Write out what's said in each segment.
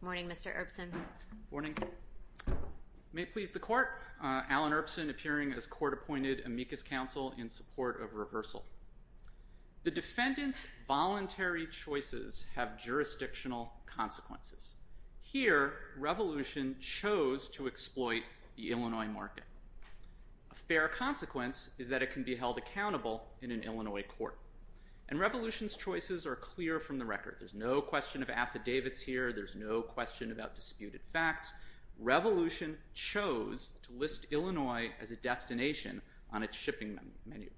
Good morning, Mr. Erbsen. Good morning. May it please the Court, Alan Erbsen, appearing as court-appointed amicus counsel in support of reversal. The defendant's voluntary choices have jurisdictional consequences. Here, Revolution chose to exploit the Illinois market. A fair consequence is that it can be held accountable in an Illinois court. And Revolution's choices are clear from the record. There's no question of affidavits here. There's no question about disputed facts. Revolution chose to list Illinois as a destination on its shipping menu.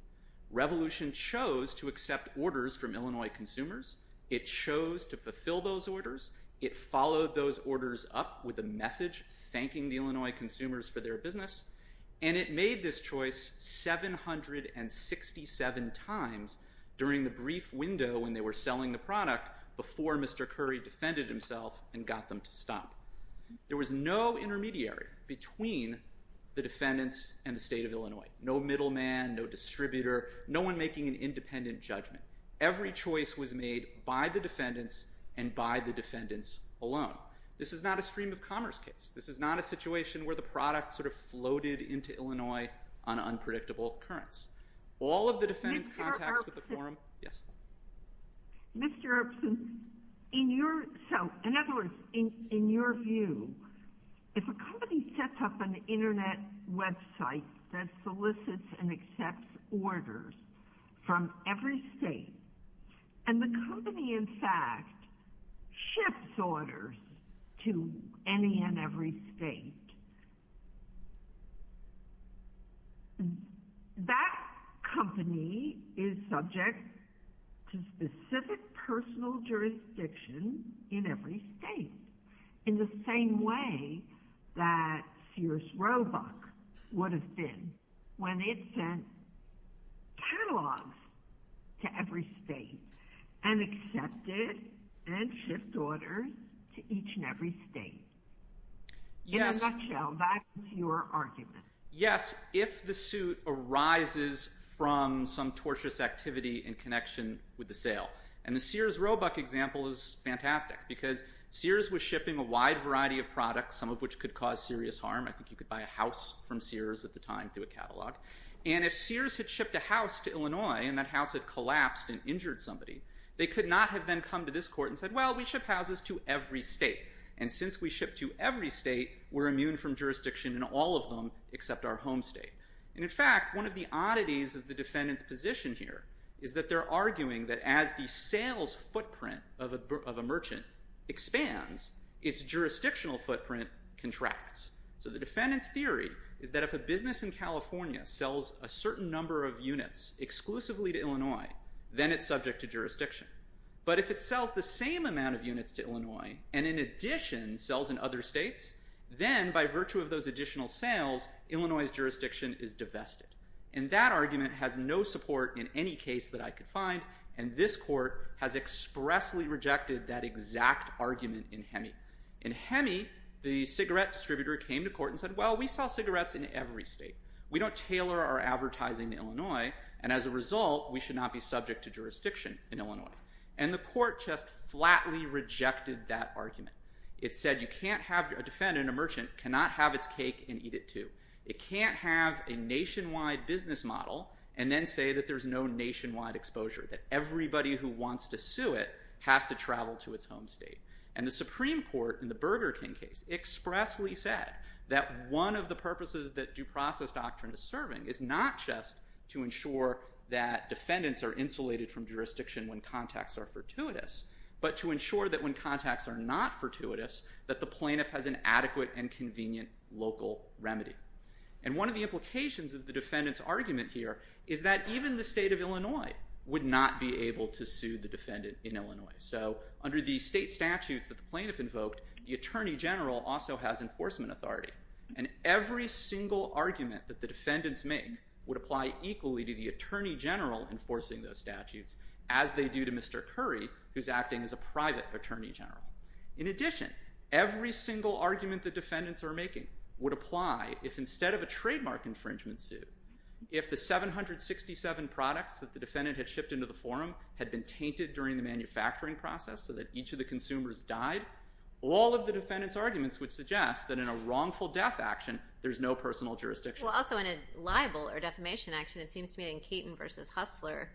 Revolution chose to accept orders from Illinois consumers. It chose to fulfill those orders. It followed those orders up with a message thanking the Illinois consumers for their business. And it made this choice 767 times during the brief window when they were selling the product before Mr. Curry defended himself and got them to stop. There was no intermediary between the defendants and the state of Illinois. No middleman, no distributor, no one making an independent judgment. Every choice was made by the defendants and by the defendants alone. This is not a stream of commerce case. This is not a situation where the product sort of floated into Illinois on unpredictable currents. All of the defendants' contacts with the forum... Yes? Mr. Erbsohn, in your... So, in other words, in your view, if a company sets up an Internet website that solicits and accepts orders from every state and the company, in fact, shifts orders to any and every state, that company is subject to specific personal jurisdiction in every state in the same way that Sears Roebuck would have been when it sent catalogs to every state and accepted and shipped orders to each and every state. In a nutshell, that's your argument. Yes, if the suit arises from some tortious activity in connection with the sale. And the Sears Roebuck example is fantastic because Sears was shipping a wide variety of products, some of which could cause serious harm. I think you could buy a house from Sears at the time through a catalog. And if Sears had shipped a house to Illinois and that house had collapsed and injured somebody, they could not have then come to this court and said, well, we ship houses to every state. And since we ship to every state, we're immune from jurisdiction in all of them except our home state. And, in fact, one of the oddities of the defendant's position here is that they're arguing that as the sales footprint of a merchant expands, its jurisdictional footprint contracts. So the defendant's theory is that if a business in California sells a certain number of units exclusively to Illinois, then it's subject to jurisdiction. But if it sells the same amount of units to Illinois and, in addition, sells in other states, then, by virtue of those additional sales, Illinois's jurisdiction is divested. And that argument has no support in any case that I could find. And this court has expressly rejected that exact argument in HEMI. In HEMI, the cigarette distributor came to court and said, well, we sell cigarettes in every state. We don't tailor our advertising to Illinois, and as a result, we should not be subject to jurisdiction in Illinois. And the court just flatly rejected that argument. It said you can't have a defendant, a merchant, cannot have its cake and eat it too. It can't have a nationwide business model and then say that there's no nationwide exposure, that everybody who wants to sue it has to travel to its home state. And the Supreme Court, in the Burger King case, expressly said that one of the purposes that due process doctrine is serving is not just to ensure that defendants are insulated from jurisdiction when contacts are fortuitous, but to ensure that when contacts are not fortuitous, that the plaintiff has an adequate and convenient local remedy. And one of the implications of the defendant's argument here would not be able to sue the defendant in Illinois. So under the state statutes that the plaintiff invoked, the attorney general also has enforcement authority. And every single argument that the defendants make would apply equally to the attorney general enforcing those statutes, as they do to Mr. Curry, who's acting as a private attorney general. In addition, every single argument the defendants are making would apply if instead of a trademark infringement suit, if the 767 products that the defendant had shipped into the forum had been tainted during the manufacturing process so that each of the consumers died, all of the defendants' arguments would suggest that in a wrongful death action, there's no personal jurisdiction. Well, also in a libel or defamation action, it seems to me that in Keaton v. Hustler,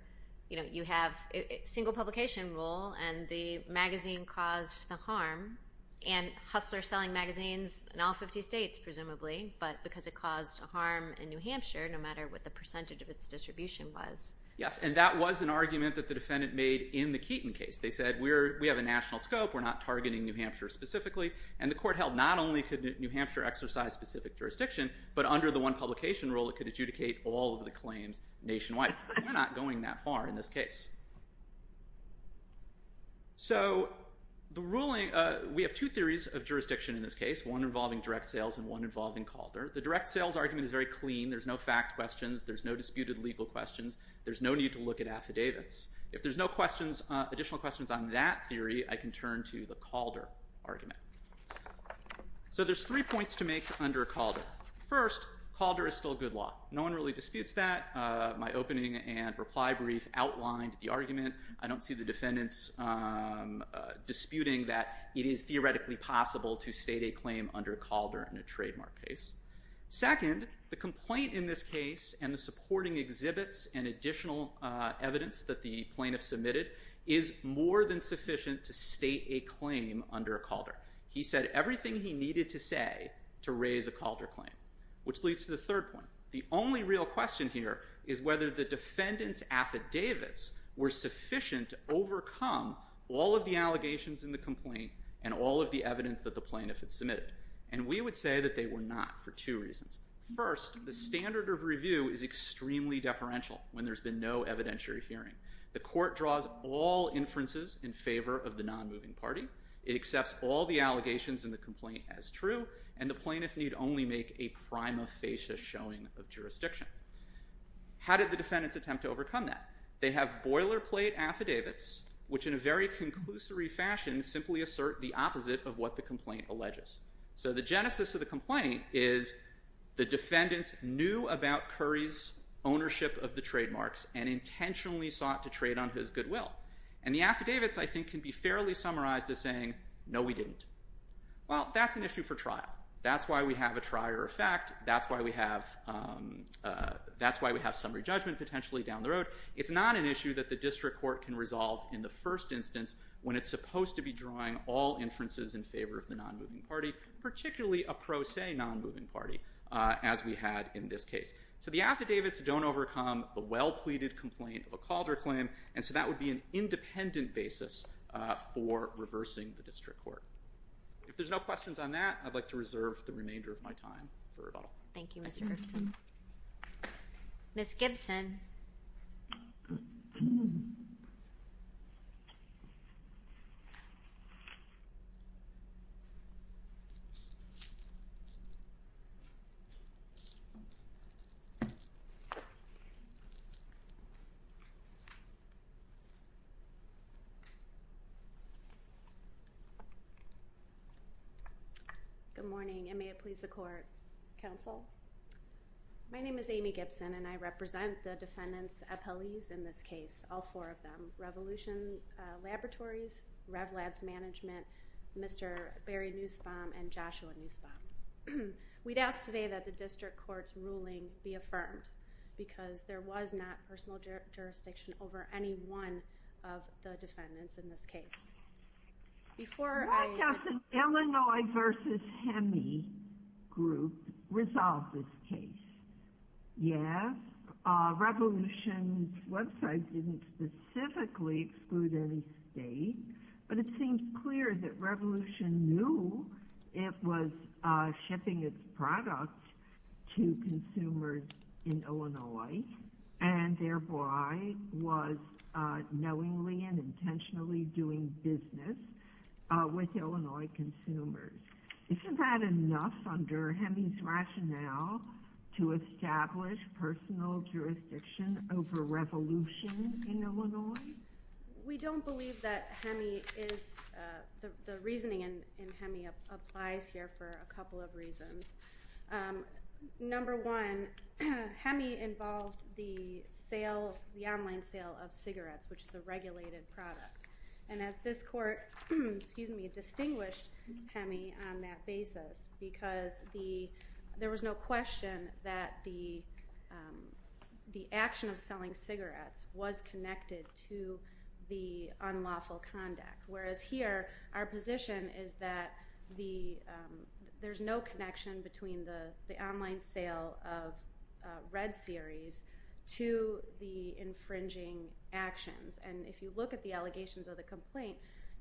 you have a single publication rule, and the magazine caused the harm. And Hustler's selling magazines in all 50 states, presumably, but because it caused harm in New Hampshire, no matter what the percentage of its distribution was. Yes, and that was an argument that the defendant made in the Keaton case. They said, we have a national scope, we're not targeting New Hampshire specifically, and the court held not only could New Hampshire exercise specific jurisdiction, but under the one publication rule, it could adjudicate all of the claims nationwide. We're not going that far in this case. So we have two theories of jurisdiction in this case, one involving direct sales and one involving Calder. The direct sales argument is very clean. There's no fact questions. There's no disputed legal questions. There's no need to look at affidavits. If there's no additional questions on that theory, I can turn to the Calder argument. So there's three points to make under Calder. First, Calder is still good law. No one really disputes that. My opening and reply brief outlined the argument. I don't see the defendants disputing that it is theoretically possible to state a claim under Calder in a trademark case. Second, the complaint in this case and the supporting exhibits and additional evidence that the plaintiff submitted is more than sufficient to state a claim under Calder. He said everything he needed to say to raise a Calder claim, which leads to the third point. The only real question here is whether the defendants' affidavits were sufficient to overcome all of the allegations in the complaint and all of the evidence that the plaintiff had submitted, and we would say that they were not for two reasons. First, the standard of review is extremely deferential when there's been no evidentiary hearing. The court draws all inferences in favor of the nonmoving party. It accepts all the allegations in the complaint as true, and the plaintiff need only make a prima facie showing of jurisdiction. How did the defendants attempt to overcome that? They have boilerplate affidavits, which in a very conclusory fashion simply assert the opposite of what the complaint alleges. So the genesis of the complaint is the defendants knew about Curry's ownership of the trademarks and intentionally sought to trade on his goodwill, and the affidavits, I think, can be fairly summarized as saying, no, we didn't. Well, that's an issue for trial. That's why we have a trier of fact. That's why we have summary judgment, potentially, down the road. It's not an issue that the district court can resolve in the first instance when it's supposed to be drawing all inferences in favor of the nonmoving party, particularly a pro se nonmoving party, as we had in this case. So the affidavits don't overcome the well-pleaded complaint of a Calder claim, and so that would be an independent basis for reversing the district court. If there's no questions on that, I'd like to reserve the remainder of my time for rebuttal. Thank you, Mr. Gerson. Ms. Gibson. Thank you. Good morning, and may it please the court. Counsel. My name is Amy Gibson, and I represent the defendant's appellees in this case, all four of them, Revolution Laboratories, RevLabs Management, Mr. Barry Nussbaum, and Joshua Nussbaum. We'd ask today that the district court's ruling be affirmed, because there was not personal jurisdiction over any one of the defendants in this case. Before I... Why doesn't Illinois v. Hemi Group resolve this case? Yes. Revolution's website didn't specifically exclude any state, but it seems clear that Revolution knew it was shipping its products to consumers in Illinois and thereby was knowingly and intentionally doing business with Illinois consumers. Isn't that enough under Hemi's rationale to establish personal jurisdiction over Revolution in Illinois? We don't believe that Hemi is... The reasoning in Hemi applies here for a couple of reasons. Number one, Hemi involved the online sale of cigarettes, which is a regulated product, and this court distinguished Hemi on that basis because there was no question that the action of selling cigarettes was connected to the unlawful conduct, whereas here our position is that there's no connection between the online sale of Red Series to the infringing actions. And if you look at the allegations of the complaint,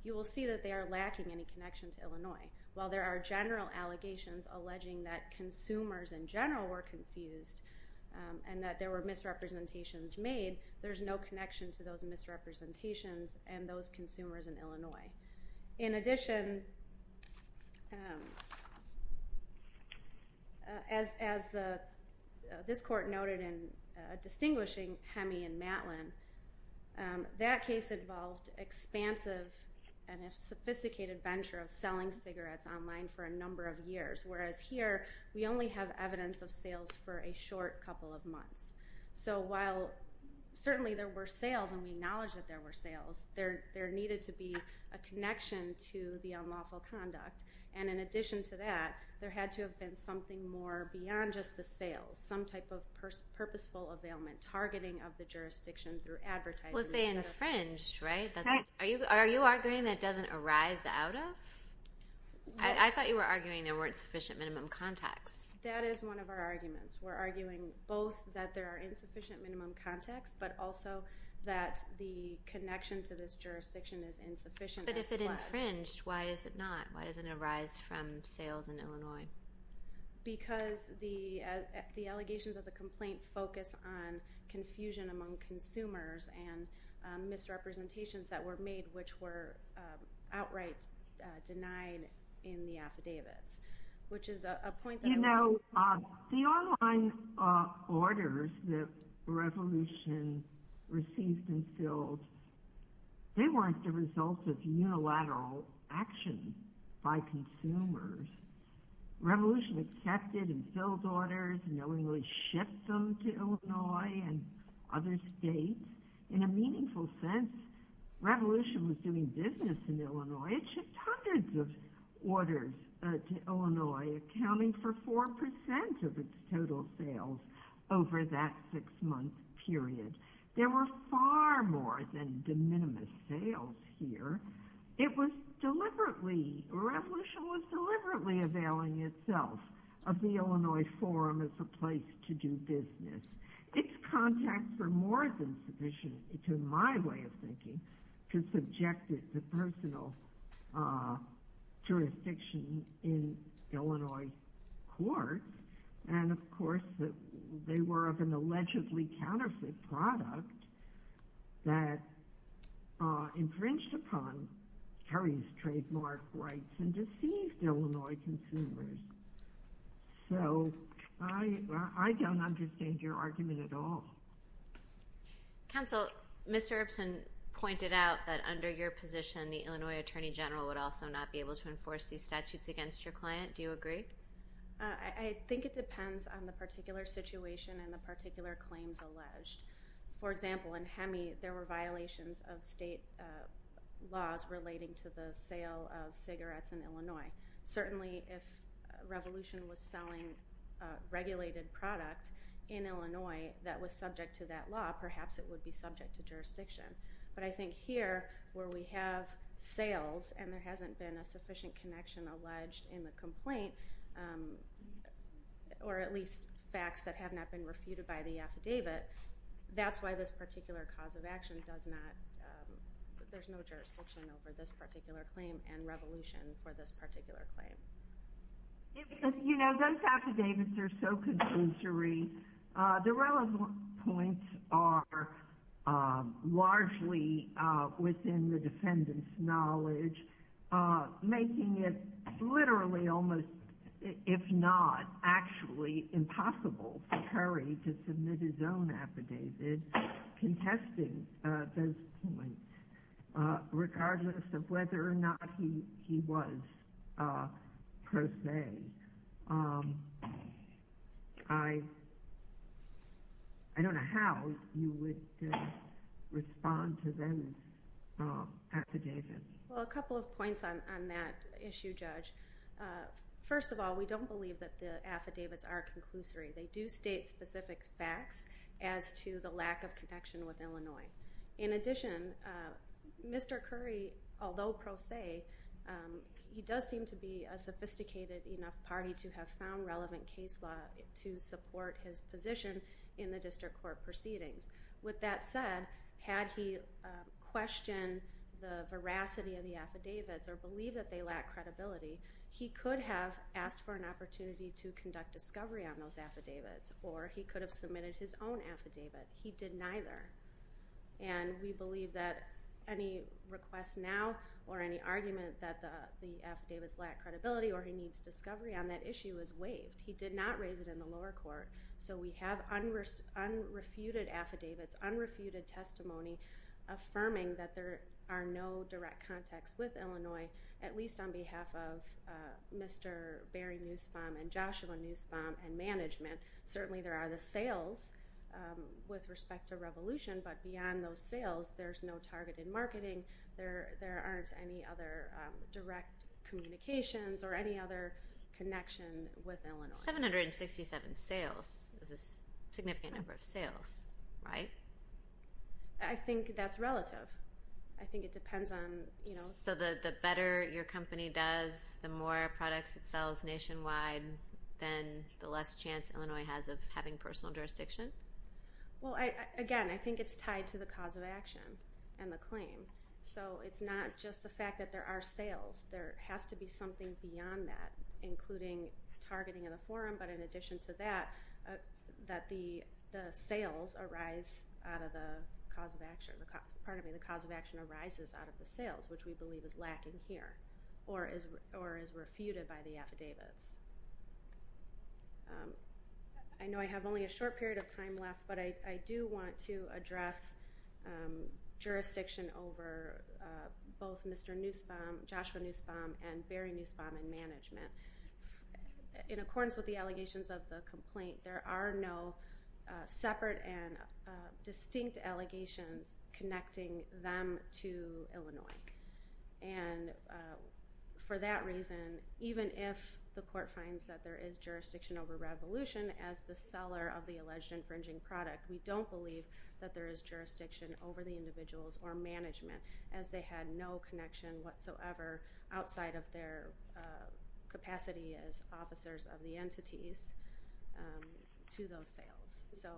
you will see that they are lacking any connection to Illinois. While there are general allegations alleging that consumers in general were confused and that there were misrepresentations made, there's no connection to those misrepresentations and those consumers in Illinois. In addition, as this court noted in distinguishing Hemi and Matlin, that case involved expansive and a sophisticated venture of selling cigarettes online for a number of years, whereas here we only have evidence of sales for a short couple of months. So while certainly there were sales and we acknowledge that there were sales, there needed to be a connection to the unlawful conduct, and in addition to that, there had to have been something more beyond just the sales, some type of purposeful availment, targeting of the jurisdiction through advertising. Well, if they infringed, right? Are you arguing that doesn't arise out of? I thought you were arguing there weren't sufficient minimum contacts. That is one of our arguments. We're arguing both that there are insufficient minimum contacts, but also that the connection to this jurisdiction is insufficient as well. But if it infringed, why is it not? Why doesn't it arise from sales in Illinois? Because the allegations of the complaint focus on confusion among consumers and misrepresentations that were made, which were outright denied in the affidavits, which is a point that... You know, the online orders that Revolution received and filled, they weren't the result of unilateral action by consumers. Revolution accepted and filled orders and knowingly shipped them to Illinois and other states. In a meaningful sense, Revolution was doing business in Illinois. It shipped hundreds of orders to Illinois, accounting for 4% of its total sales over that six-month period. There were far more than de minimis sales here. It was deliberately... Revolution was deliberately availing itself of the Illinois Forum as a place to do business. Its contacts were more than sufficient, it's in my way of thinking, to subject it to personal jurisdiction in Illinois courts. And, of course, they were of an allegedly counterfeit product that infringed upon Terry's trademark rights and deceived Illinois consumers. So I don't understand your argument at all. Counsel, Ms. Herbston pointed out that under your position, the Illinois Attorney General would also not be able to enforce these statutes against your client. Do you agree? I think it depends on the particular situation and the particular claims alleged. For example, in HEMI, there were violations of state laws relating to the sale of cigarettes in Illinois. Certainly, if Revolution was selling a regulated product in Illinois that was subject to that law, perhaps it would be subject to jurisdiction. But I think here, where we have sales and there hasn't been a sufficient connection alleged in the complaint, or at least facts that have not been refuted by the affidavit, that's why this particular cause of action does not... apply for this particular claim and Revolution for this particular claim. You know, those affidavits are so conclusory. The relevant points are largely within the defendant's knowledge, making it literally almost, if not actually impossible for Terry to submit his own affidavit contesting those points. Regardless of whether or not he was, per se. I don't know how you would respond to those affidavits. Well, a couple of points on that issue, Judge. First of all, we don't believe that the affidavits are conclusory. They do state specific facts as to the lack of connection with Illinois. In addition, Mr. Curry, although pro se, he does seem to be a sophisticated enough party to have found relevant case law to support his position in the district court proceedings. With that said, had he questioned the veracity of the affidavits or believed that they lack credibility, he could have asked for an opportunity to conduct discovery on those affidavits, or he could have submitted his own affidavit. He did neither, and we believe that any request now or any argument that the affidavits lack credibility or he needs discovery on that issue is waived. He did not raise it in the lower court, so we have unrefuted affidavits, unrefuted testimony affirming that there are no direct contacts with Illinois, at least on behalf of Mr. Barry Nussbaum and Joshua Nussbaum and management. Certainly there are the sales with respect to Revolution, but beyond those sales there's no targeted marketing. There aren't any other direct communications or any other connection with Illinois. 767 sales is a significant number of sales, right? I think that's relative. I think it depends on... So the better your company does, the more products it sells nationwide, then the less chance Illinois has of having personal jurisdiction? Well, again, I think it's tied to the cause of action and the claim. So it's not just the fact that there are sales. There has to be something beyond that, including targeting in the forum, but in addition to that, that the sales arise out of the cause of action. Pardon me, the cause of action arises out of the sales, which we believe is lacking here or is refuted by the affidavits. I know I have only a short period of time left, but I do want to address jurisdiction over both Mr. Nussbaum, Joshua Nussbaum, and Barry Nussbaum and management. In accordance with the allegations of the complaint, and for that reason, even if the court finds that there is jurisdiction over Revolution as the seller of the alleged infringing product, we don't believe that there is jurisdiction over the individuals or management as they had no connection whatsoever outside of their capacity as officers of the entities to those sales. So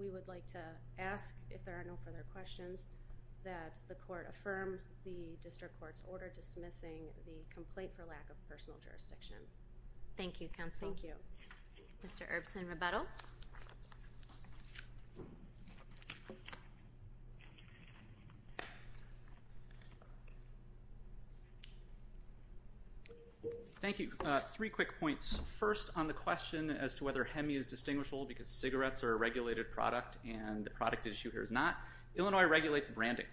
we would like to ask, if there are no further questions, that the court affirm the district court's order dismissing the complaint for lack of personal jurisdiction. Thank you, counsel. Thank you. Mr. Erbsen, rebuttal. Thank you. Three quick points. First, on the question as to whether HEMI is distinguishable because cigarettes are a regulated product and the product issue here is not. Illinois regulates branding.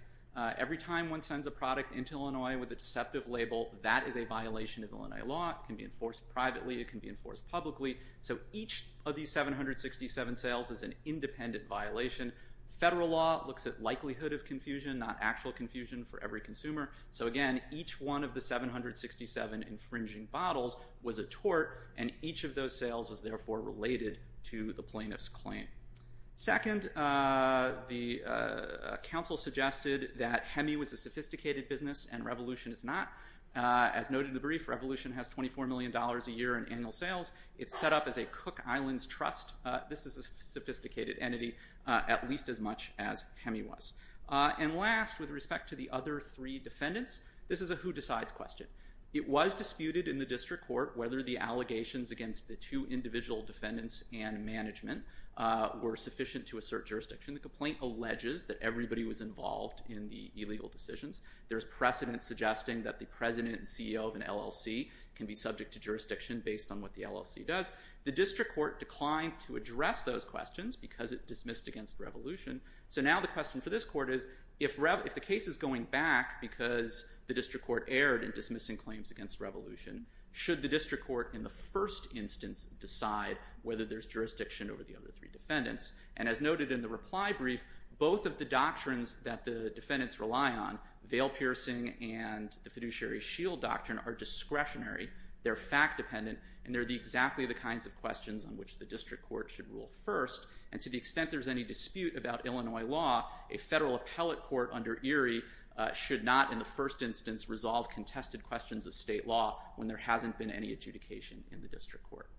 Every time one sends a product into Illinois with a deceptive label, that is a violation of Illinois law. It can be enforced privately. It can be enforced publicly. So each of these 767 sales is an independent violation. Federal law looks at likelihood of confusion, not actual confusion for every consumer. So again, each one of the 767 infringing bottles was a tort, and each of those sales is therefore related to the plaintiff's claim. Second, the counsel suggested that HEMI was a sophisticated business and Revolution is not. As noted in the brief, Revolution has $24 million a year in annual sales. It's set up as a Cook Islands Trust. This is a sophisticated entity, at least as much as HEMI was. And last, with respect to the other three defendants, this is a who-decides question. It was disputed in the district court whether the allegations against the two individual defendants and management were sufficient to assert jurisdiction. The complaint alleges that everybody was involved in the illegal decisions. There's precedent suggesting that the president and CEO of an LLC can be subject to jurisdiction based on what the LLC does. The district court declined to address those questions because it dismissed against Revolution. So now the question for this court is, if the case is going back because the district court erred in dismissing claims against Revolution, should the district court in the first instance decide whether there's jurisdiction over the other three defendants? And as noted in the reply brief, both of the doctrines that the defendants rely on, veil-piercing and the fiduciary shield doctrine, are discretionary, they're fact-dependent, and they're exactly the kinds of questions on which the district court should rule first. And to the extent there's any dispute about Illinois law, a federal appellate court under Erie should not, in the first instance, resolve contested questions of state law when there hasn't been any adjudication in the district court.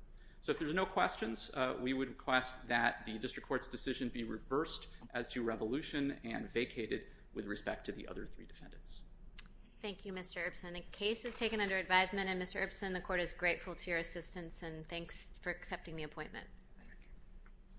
So if there's no questions, we would request that the district court's decision be reversed as to Revolution and vacated with respect to the other three defendants. Thank you, Mr. Ibsen. The case is taken under advisement, and Mr. Ibsen, the court is grateful to your assistance, and thanks for accepting the appointment.